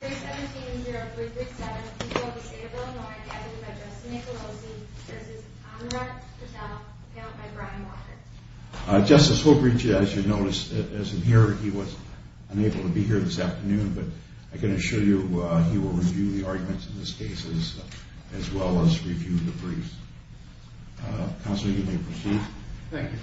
317-0337, people of the state of Illinois, gathered by Justin Nicolosi, v. Amarat Patel, apparent by Brian Walker. Justice Holbreach, as you noticed, is in here. He was unable to be here this afternoon, but I can assure you he will review the arguments in this case as well as review the briefs. Counselor, you may proceed. Thank you.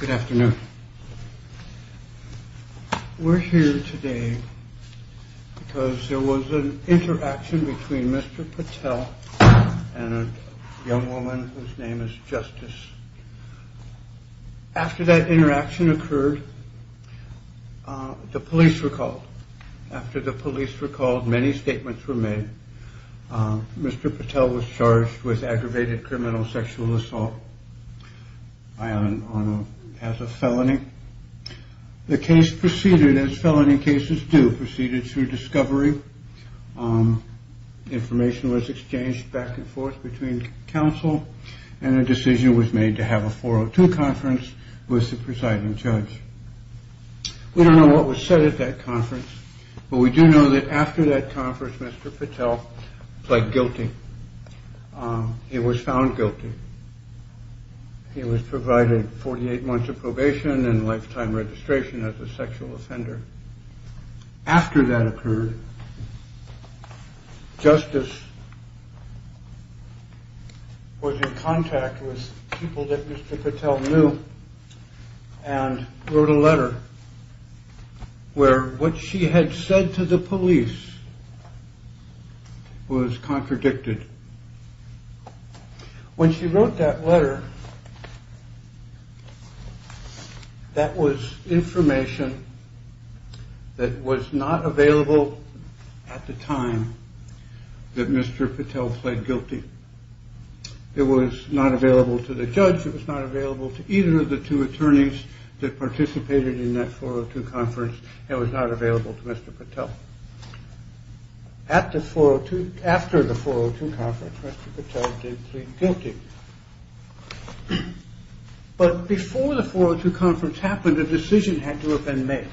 Good afternoon. We're here today because there was an interaction between Mr. Patel and a young woman whose name is Justice. After that interaction occurred, the police were called. After the police were called, many statements were made. Mr. Patel was charged with aggravated criminal sexual assault as a felony. The case proceeded as felony cases do, proceeded through discovery. Information was exchanged back and forth between counsel, and a decision was made to have a 402 conference with the presiding judge. We don't know what was said at that conference, but we do know that after that conference, Mr. Patel pled guilty. He was found guilty. He was provided 48 months of probation and lifetime registration as a sexual offender. After that occurred, Justice was in contact with people that Mr. Patel knew and wrote a letter where what she had said to the police was contradicted. When she wrote that letter, that was information that was not available at the time that Mr. Patel pled guilty. It was not available to the judge. It was not available to either of the two attorneys that participated in that 402 conference. It was not available to Mr. Patel. After the 402 conference, Mr. Patel did plead guilty. But before the 402 conference happened, a decision had to have been made.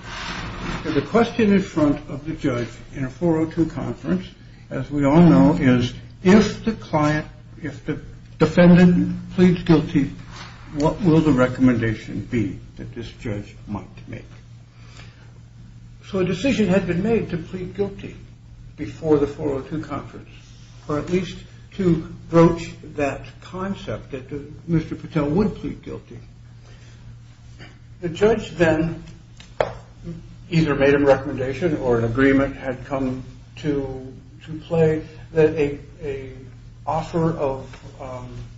The question in front of the judge in a 402 conference, as we all know, is if the client, if the defendant pleads guilty, what will the recommendation be that this judge might make? So a decision had been made to plead guilty before the 402 conference, or at least to broach that concept that Mr. Patel would plead guilty. The judge then either made a recommendation or an agreement had come to play that an offer of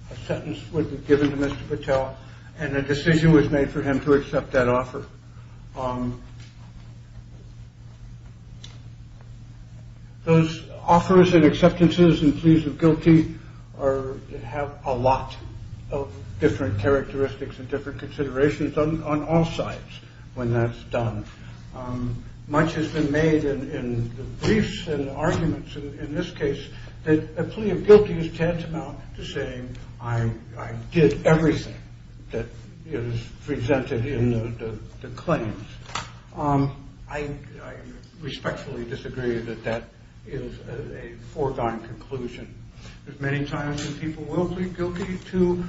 a sentence would be given to Mr. Patel, and a decision was made for him to accept that offer. Those offers and acceptances and pleas of guilty have a lot of different characteristics and different considerations on all sides when that's done. Much has been made in the briefs and arguments in this case that a plea of guilty is tantamount to saying, I did everything that is presented in the claims. I respectfully disagree that that is a foregone conclusion. There's many times when people will plead guilty to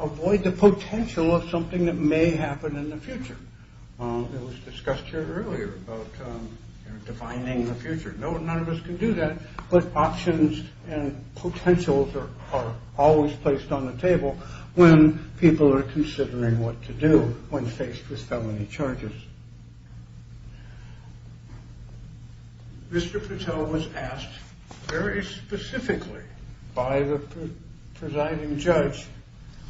avoid the potential of something that may happen in the future. It was discussed here earlier about defining the future. None of us can do that, but options and potentials are always placed on the table when people are considering what to do when faced with felony charges. Mr. Patel was asked very specifically by the presiding judge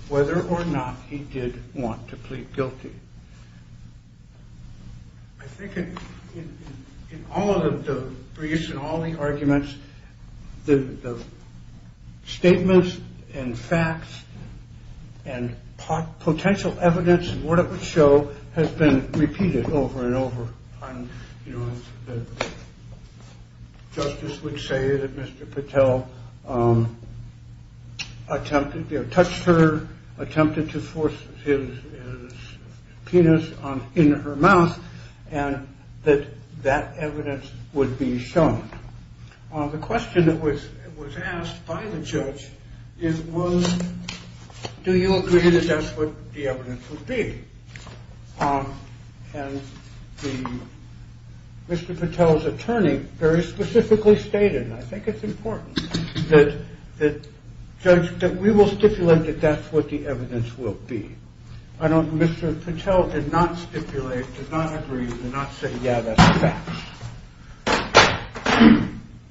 whether or not he did want to plead guilty. I think in all of the briefs and all the arguments, the statements and facts and potential evidence and what it would show has been repeated over and over. Justice would say that Mr. Patel touched her, attempted to force his penis in her mouth, and that that evidence would be shown. The question that was asked by the judge was, do you agree that that's what the evidence would be? And Mr. Patel's attorney very specifically stated, and I think it's important, that we will stipulate that that's what the evidence will be. Mr. Patel did not stipulate, did not agree, did not say, yeah, that's the facts.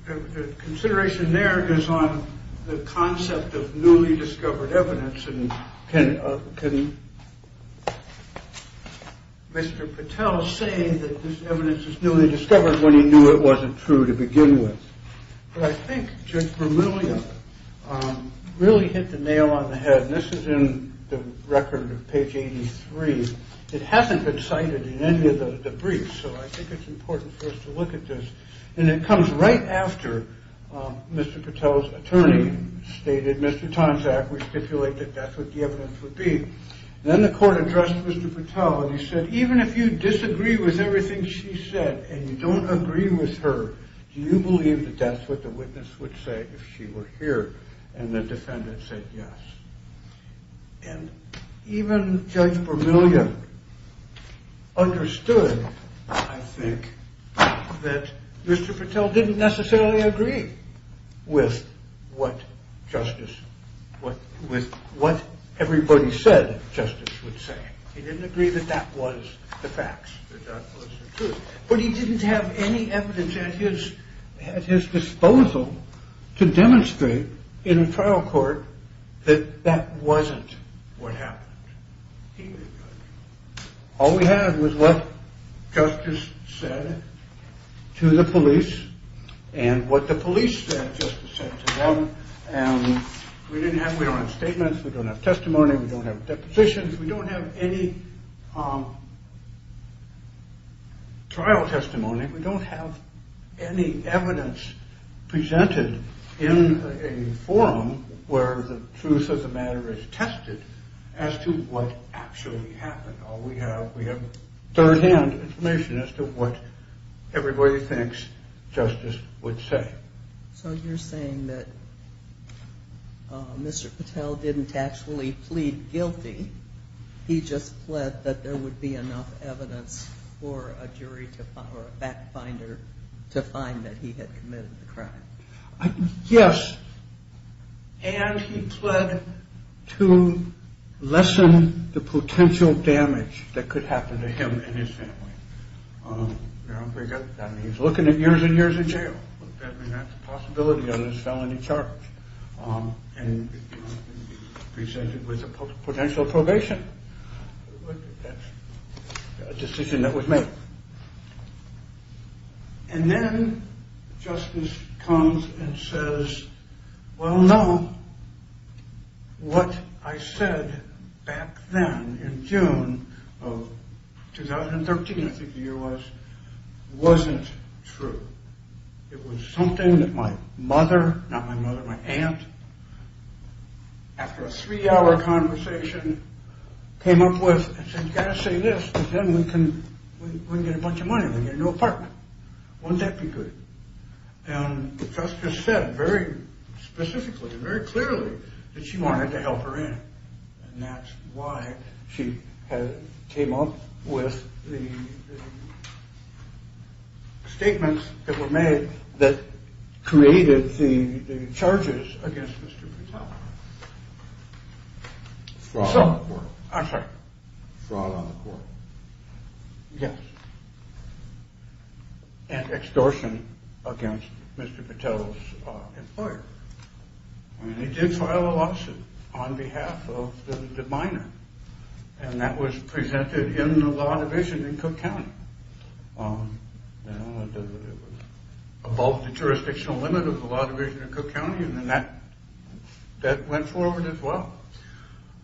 The consideration there is on the concept of newly discovered evidence. And can Mr. Patel say that this evidence is newly discovered when he knew it wasn't true to begin with? But I think Judge Vermillion really hit the nail on the head, and this is in the record of page 83. It hasn't been cited in any of the briefs, so I think it's important for us to look at this. And it comes right after Mr. Patel's attorney stated, Mr. Tonsack, we stipulate that that's what the evidence would be. Then the court addressed Mr. Patel and he said, even if you disagree with everything she said and you don't agree with her, do you believe that that's what the witness would say if she were here? And the defendant said yes. And even Judge Vermillion understood, I think, that Mr. Patel didn't necessarily agree with what justice, with what everybody said justice would say. He didn't agree that that was the facts, that that was the truth. But he didn't have any evidence at his disposal to demonstrate in a trial court that that wasn't what happened. All we had was what justice said to the police and what the police said justice said to them. And we didn't have, we don't have statements, we don't have testimony, we don't have depositions, we don't have any trial testimony. We don't have any evidence presented in a forum where the truth of the matter is tested as to what actually happened. All we have, we have third-hand information as to what everybody thinks justice would say. So you're saying that Mr. Patel didn't actually plead guilty, he just pled that there would be enough evidence for a jury or a fact finder to find that he had committed the crime. Yes. And he pled to lessen the potential damage that could happen to him and his family. He's looking at years and years in jail. That's a possibility on his felony charge and presented with a potential probation. That's a decision that was made. And then justice comes and says, well, no, what I said back then in June of 2013, I think the year was, wasn't true. It was something that my mother, not my mother, my aunt, after a three-hour conversation, came up with and said, you've got to say this because then we can get a bunch of money and get a new apartment. Wouldn't that be good? And justice said very specifically, very clearly that she wanted to help her in. And that's why she came up with the statements that were made that created the charges against Mr. Patel. Fraud on the court. I'm sorry. Fraud on the court. Yes. And extortion against Mr. Patel's employer. And he did file a lawsuit on behalf of the minor. And that was presented in the law division in Cook County. It was above the jurisdictional limit of the law division in Cook County. And that went forward as well.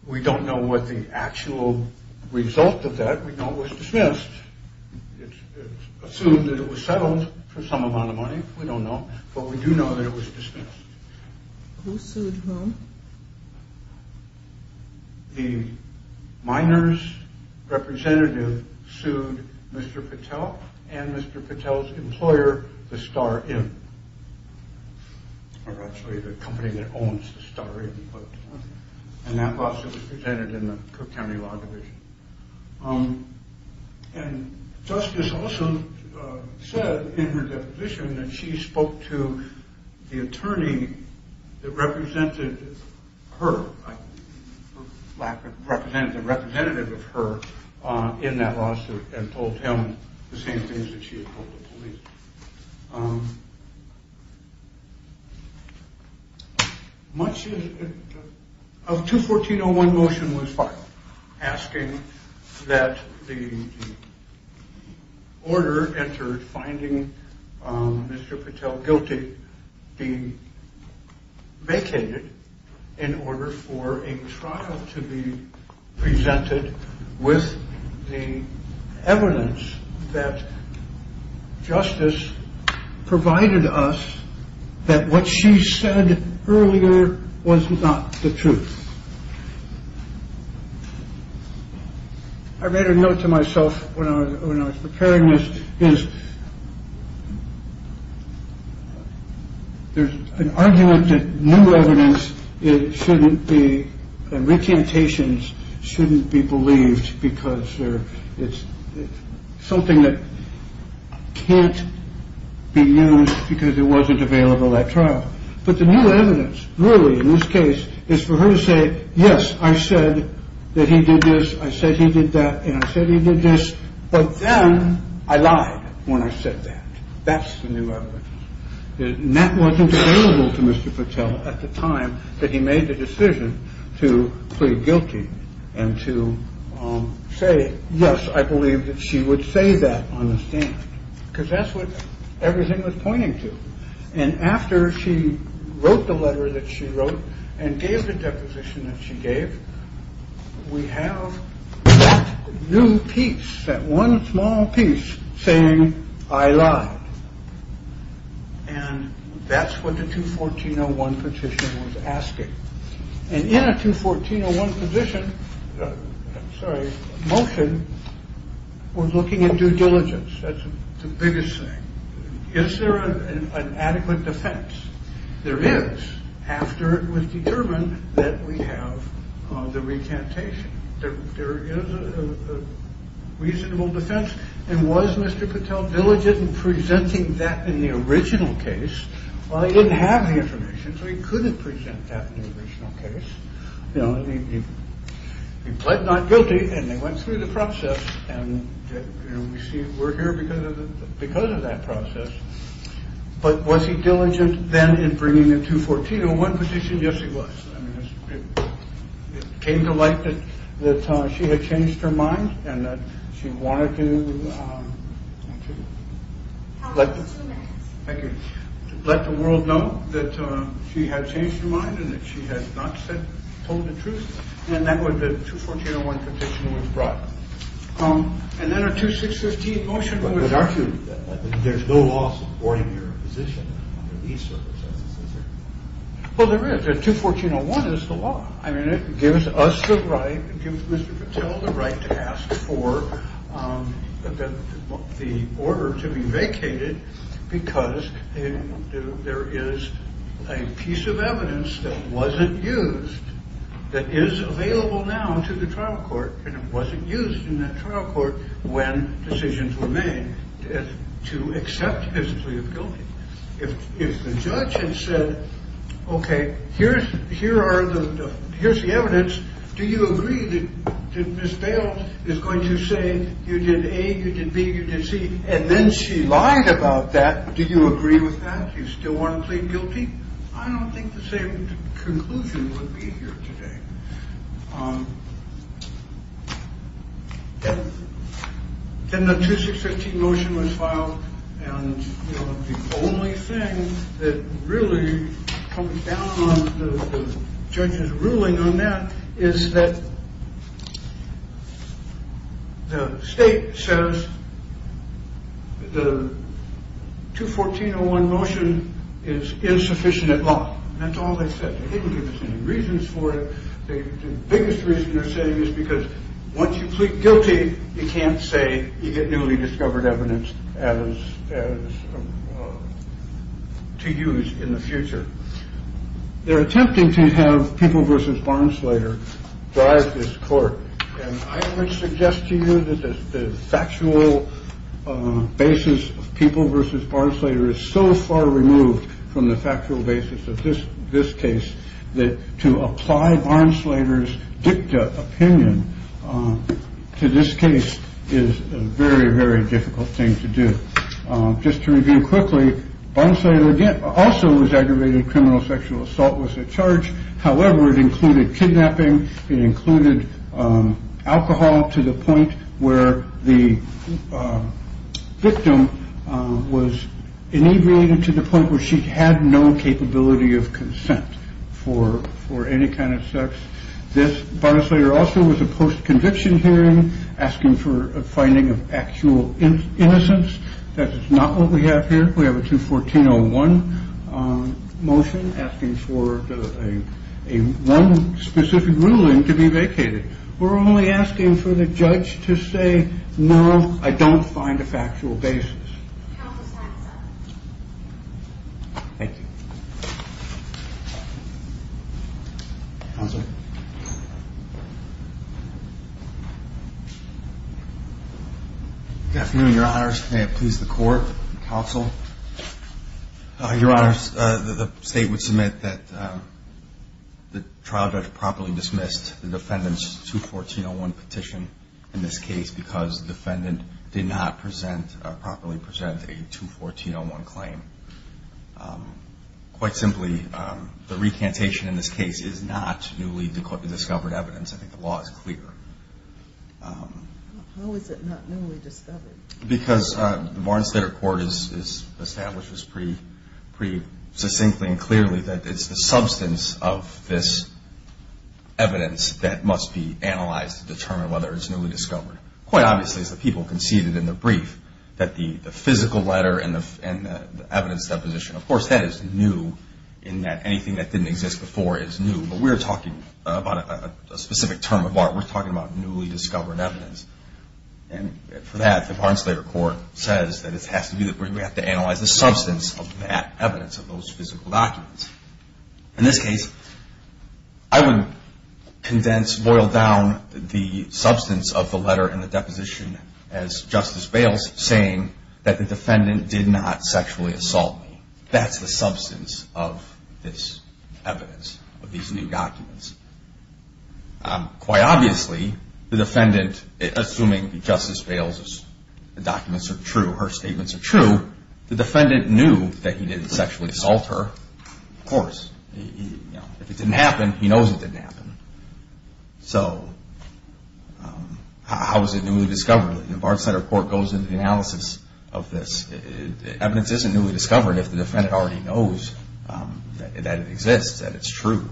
We don't know what the actual result of that. We know it was dismissed. It's assumed that it was settled for some amount of money. We don't know. But we do know that it was dismissed. Who sued whom? The minor's representative sued Mr. Patel and Mr. Patel's employer, the Star Inn. Or actually the company that owns the Star Inn. And that lawsuit was presented in the Cook County Law Division. And Justice also said in her deposition that she spoke to the attorney that represented her, the representative of her, in that lawsuit and told him the same things that she had told the police. A 214-01 motion was filed asking that the order entered finding Mr. Patel guilty be vacated in order for a trial to be presented with the evidence that justice provided us that what she said earlier was not the truth. I read a note to myself when I was preparing this is. There's an argument that new evidence shouldn't be recantations, shouldn't be believed because it's something that can't be used because it wasn't available at trial. But the new evidence really in this case is for her to say, yes, I said that he did this. I said he did that. And I said he did this. But then I lied when I said that. That's the new evidence that wasn't available to Mr. Patel at the time that he made the decision to plead guilty and to say, yes, I believe that she would say that on the stand because that's what everything was pointing to. And after she wrote the letter that she wrote and gave the deposition that she gave, we have a new piece that one small piece saying I lied. And that's what the 214-01 petition was asking. And in a 214-01 position, sorry, motion was looking at due diligence. That's the biggest thing. Is there an adequate defense? There is. After it was determined that we have the recantation, there is a reasonable defense. And was Mr. Patel diligent in presenting that in the original case? Well, he didn't have the information, so he couldn't present that in the original case. He pled not guilty and they went through the process and we're here because of that process. But was he diligent then in bringing the 214-01 petition? Yes, he was. It came to light that she had changed her mind and that she wanted to let the world know that she had changed her mind and that she had not told the truth. And that was the 214-01 petition was brought. And then a 2615 motion was argued that there's no law supporting your position. Well, there is a 214-01 is the law. I mean, it gives us the right. It gives Mr. Patel the right to ask for the order to be vacated because there is a piece of evidence that wasn't used that is available now to the trial court. And it wasn't used in that trial court when decisions were made to accept his plea of guilty. If the judge had said, OK, here's the evidence. Do you agree that Ms. Bales is going to say you did A, you did B, you did C? And then she lied about that. Do you agree with that? You still want to plead guilty? I don't think the same conclusion would be here today. Then the 2615 motion was filed. The only thing that really comes down on the judge's ruling on that is that the state says the 214-01 motion is insufficient at law. That's all they said. They didn't give us any reasons for it. The biggest reason they're saying is because once you plead guilty, you can't say you get newly discovered evidence as to use in the future. They're attempting to have people versus Barnsleyer drive this court. And I would suggest to you that the factual basis of people versus Barnsleyer is so far removed from the factual basis of this. This case that to apply Barnsleyer's dicta opinion to this case is a very, very difficult thing to do. Just to review quickly, Barnsleyer also was aggravated. Criminal sexual assault was a charge. However, it included kidnapping. It included alcohol to the point where the victim was inevitable to the point where she had no capability of consent for for any kind of sex. This Barnsleyer also was a post-conviction hearing asking for a finding of actual innocence. That is not what we have here. We have a 214-01 motion asking for a one specific ruling to be vacated. We're only asking for the judge to say, no, I don't find a factual basis. Thank you. Good afternoon, your honors. May it please the court and counsel. Your honors, the state would submit that the trial judge properly dismissed the defendant's 214-01 petition in this case because the defendant did not properly present a 214-01 claim. Quite simply, the recantation in this case is not newly discovered evidence. I think the law is clear. How is it not newly discovered? Because the Barnsleyer court establishes pretty succinctly and clearly that it's the substance of this evidence that must be analyzed to determine whether it's newly discovered. Quite obviously, as the people conceded in the brief, that the physical letter and the evidence deposition, of course, that is new in that anything that didn't exist before is new. But we're talking about a specific term of art. We're talking about newly discovered evidence. And for that, the Barnsleyer court says that it has to be that we have to analyze the substance of that evidence, of those physical documents. In this case, I would condense, boil down the substance of the letter and the deposition as Justice Bales saying that the defendant did not sexually assault me. That's the substance of this evidence, of these new documents. Quite obviously, the defendant, assuming Justice Bales' documents are true, her statements are true, the defendant knew that he didn't sexually assault her, of course. If it didn't happen, he knows it didn't happen. So how is it newly discovered? The Barnsleyer court goes into the analysis of this. Evidence isn't newly discovered if the defendant already knows that it exists, that it's true.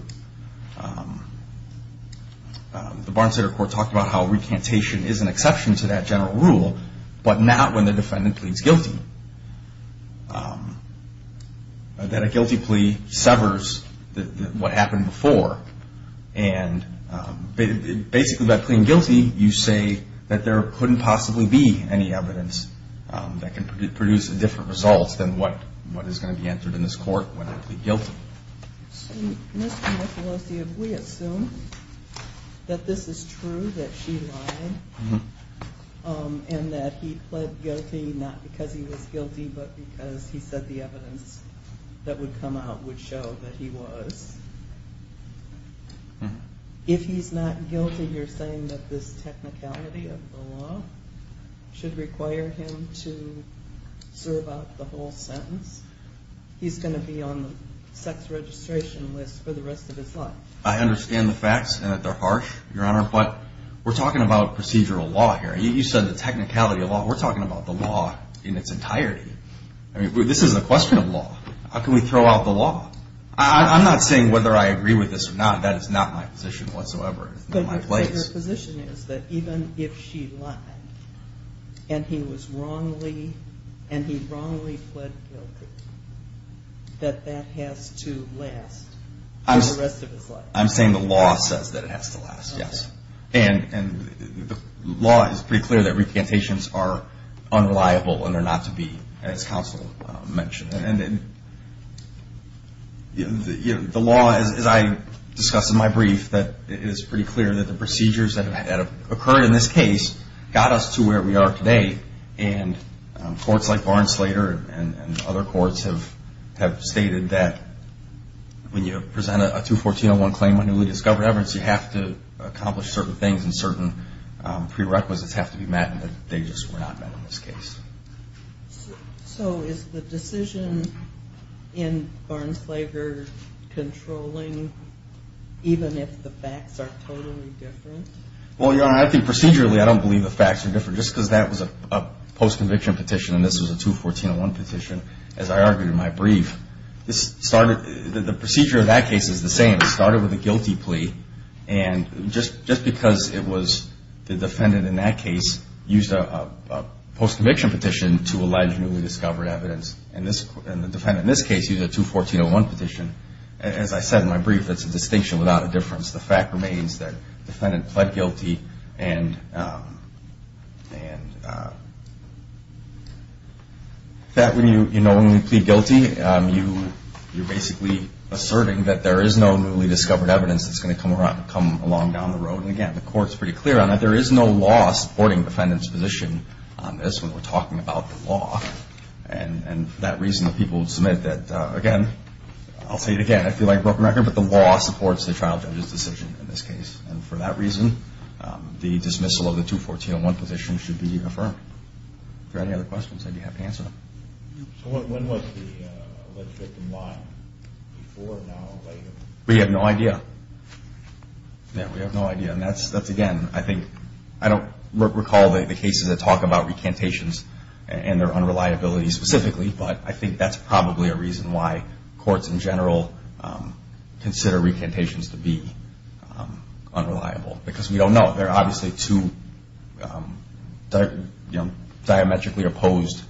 The Barnsleyer court talked about how recantation is an exception to that general rule, but not when the defendant pleads guilty. That a guilty plea severs what happened before. And basically, by pleading guilty, you say that there couldn't possibly be any evidence that can produce different results than what is going to be answered in this court when they plead guilty. So, Mr. Michaloski, if we assume that this is true, that she lied, and that he pled guilty not because he was guilty, but because he said the evidence that would come out would show that he was, if he's not guilty, you're saying that this technicality of the law should require him to serve out the whole sentence? He's going to be on the sex registration list for the rest of his life. I understand the facts and that they're harsh, Your Honor, but we're talking about procedural law here. You said the technicality of the law. We're talking about the law in its entirety. I mean, this is a question of law. How can we throw out the law? I'm not saying whether I agree with this or not. That is not my position whatsoever. But your position is that even if she lied and he wrongly pled guilty, that that has to last for the rest of his life? I'm saying the law says that it has to last, yes. And the law is pretty clear that representations are unreliable and are not to be, as counsel mentioned. And the law, as I discussed in my brief, that it is pretty clear that the procedures that have occurred in this case got us to where we are today. And courts like Barnes-Slater and other courts have stated that when you present a 214-01 claim on newly discovered evidence, you have to accomplish certain things and certain prerequisites have to be met and that they just were not met in this case. So is the decision in Barnes-Slater controlling even if the facts are totally different? Well, Your Honor, I think procedurally I don't believe the facts are different. Just because that was a post-conviction petition and this was a 214-01 petition, as I argued in my brief, the procedure of that case is the same. It started with a guilty plea. And just because it was the defendant in that case used a post-conviction petition to allege newly discovered evidence and the defendant in this case used a 214-01 petition, as I said in my brief, that's a distinction without a difference. The fact remains that the defendant pled guilty and that when you plead guilty, you're basically asserting that there is no newly discovered evidence that's going to come along down the road. And again, the Court's pretty clear on that. There is no law supporting the defendant's position on this when we're talking about the law. And for that reason, the people who submit that, again, I'll say it again, I feel like a broken record, but the law supports the trial judge's decision in this case. And for that reason, the dismissal of the 214-01 petition should be affirmed. Are there any other questions that you have to answer? So when was the alleged victim lying? Before, now, or later? We have no idea. Yeah, we have no idea. And that's, again, I think I don't recall the cases that talk about recantations and their unreliability specifically, but I think that's probably a reason why courts in general consider recantations to be unreliable, because we don't know. There are obviously two diametrically opposed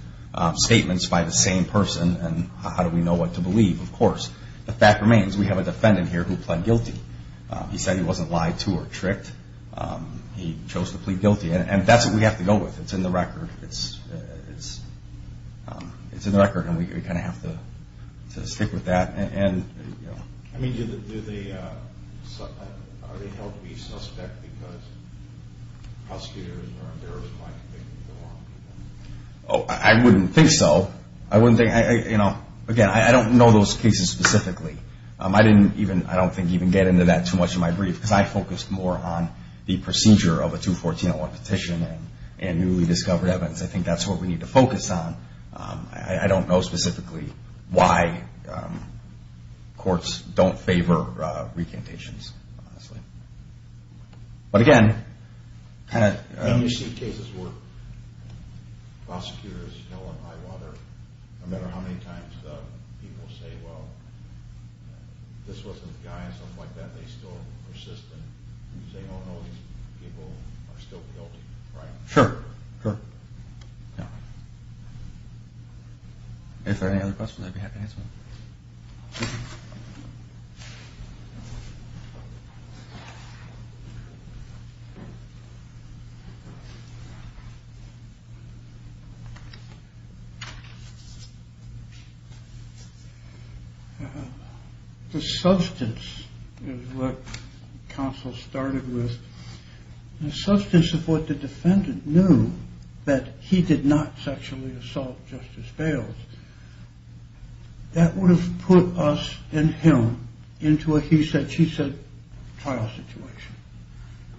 statements by the same person, and how do we know what to believe? Of course, the fact remains we have a defendant here who pled guilty. He said he wasn't lied to or tricked. He chose to plead guilty, and that's what we have to go with. It's in the record, and we kind of have to stick with that. I mean, are they held to be suspect because prosecutors are embarrassed by conviction? I wouldn't think so. Again, I don't know those cases specifically. I don't think even get into that too much in my brief, because I focused more on the procedure of a 214-01 petition and newly discovered evidence. I think that's what we need to focus on. I don't know specifically why courts don't favor recantations, honestly. But again, kind of— And you see cases where prosecutors fill in high water. No matter how many times people say, well, this wasn't the guy, and stuff like that, they still persist and say, oh, no, these people are still guilty, right? Sure, sure. If there are any other questions, I'd be happy to answer them. The substance is what counsel started with. The substance of what the defendant knew that he did not sexually assault Justice Bales, that would have put us and him into a he said, she said trial situation.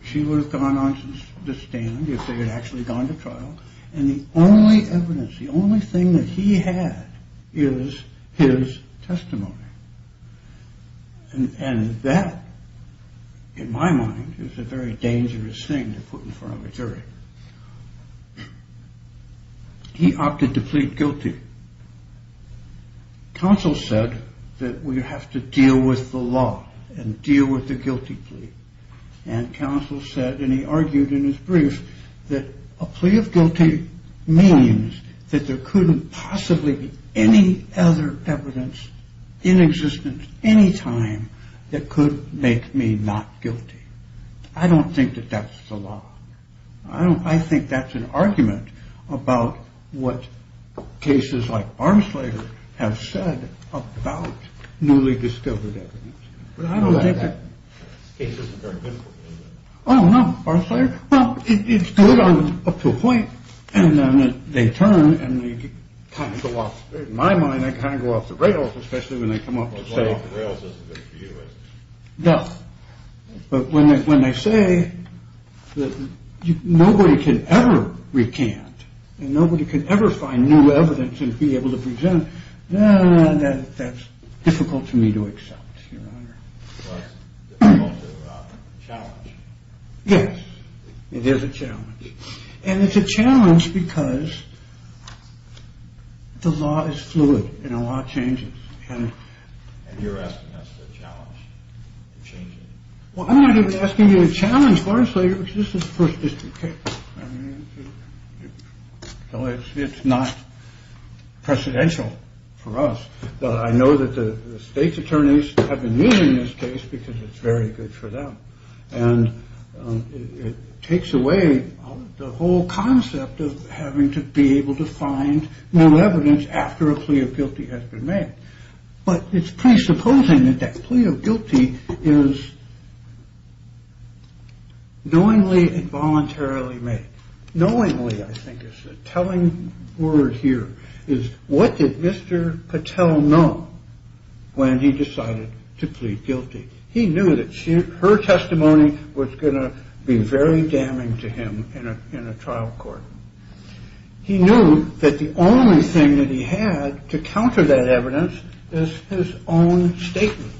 She would have gone on to stand if they had actually gone to trial, and the only evidence, the only thing that he had is his testimony. And that, in my mind, is a very dangerous thing to put in front of a jury. He opted to plead guilty. Counsel said that we have to deal with the law and deal with the guilty plea. And counsel said, and he argued in his brief, that a plea of guilty means that there couldn't possibly be any other evidence in existence any time that could make me not guilty. I don't think that that's the law. I think that's an argument about what cases like Barnsley have said about newly discovered evidence. Well, I don't think it's very good. Oh, no. It's good up to a point. And then they turn and they kind of go off. In my mind, I kind of go off the rails, especially when they come up to say that. But when they when they say that nobody could ever recant and nobody could ever find new evidence and be able to present. That's difficult for me to accept. Challenge. Yes, it is a challenge. And it's a challenge because the law is fluid and a lot of changes. And you're asking us to challenge changing. I'm asking you to challenge Barnsley. This is first district. So it's not presidential for us. But I know that the state's attorneys have been using this case because it's very good for them. And it takes away the whole concept of having to be able to find more evidence after a plea of guilty has been made. But it's presupposing that that plea of guilty is knowingly involuntarily made knowingly. I think it's a telling word here is what did Mr. Patel know when he decided to plead guilty? He knew that her testimony was going to be very damning to him in a trial court. He knew that the only thing that he had to counter that evidence is his own statements.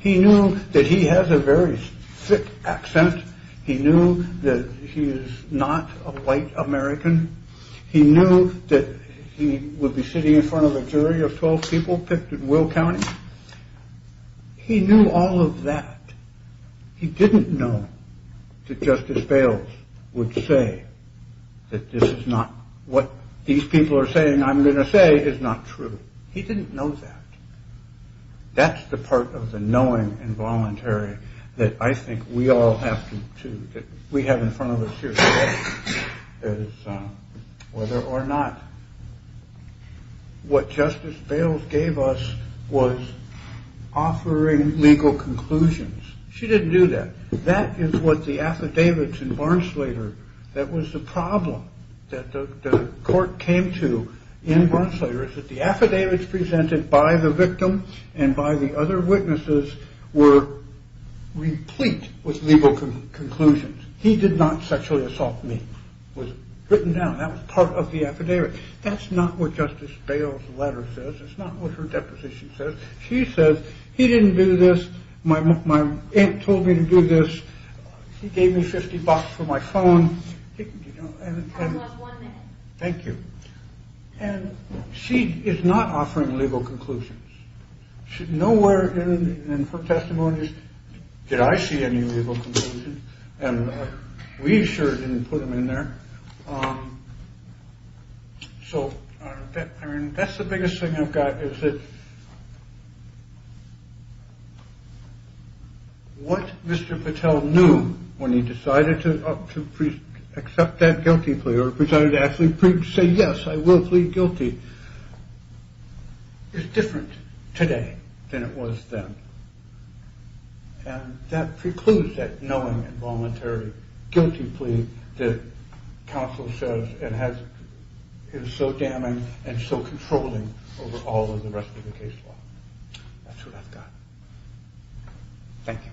He knew that he has a very thick accent. He knew that he is not a white American. He knew that he would be sitting in front of a jury of 12 people picked at Will County. He knew all of that. He didn't know that Justice Bales would say that this is not what these people are saying. I'm going to say is not true. He didn't know that. That's the part of the knowing involuntary that I think we all have to. We have in front of us here whether or not what Justice Bales gave us was offering legal conclusions. She didn't do that. That is what the affidavits in Barnsleder. That was the problem that the court came to in Barnsleder is that the affidavits presented by the victim and by the other witnesses were replete with legal conclusions. He did not sexually assault me was written down. That was part of the affidavit. That's not what Justice Bales letter says. It's not what her deposition says. She says he didn't do this. My mom told me to do this. She gave me 50 bucks for my phone. Thank you. And she is not offering legal conclusions. Nowhere in her testimonies did I see any legal conclusions. And we sure didn't put them in there. So that's the biggest thing I've got. What Mr. Patel knew when he decided to accept that guilty plea or presented to Ashley Preece say yes I will plead guilty is different today than it was then. And that precludes that knowing involuntary guilty plea that counsel says it has is so damning and so controlling over all of the rest of the case. So that's what I've got. Thank you.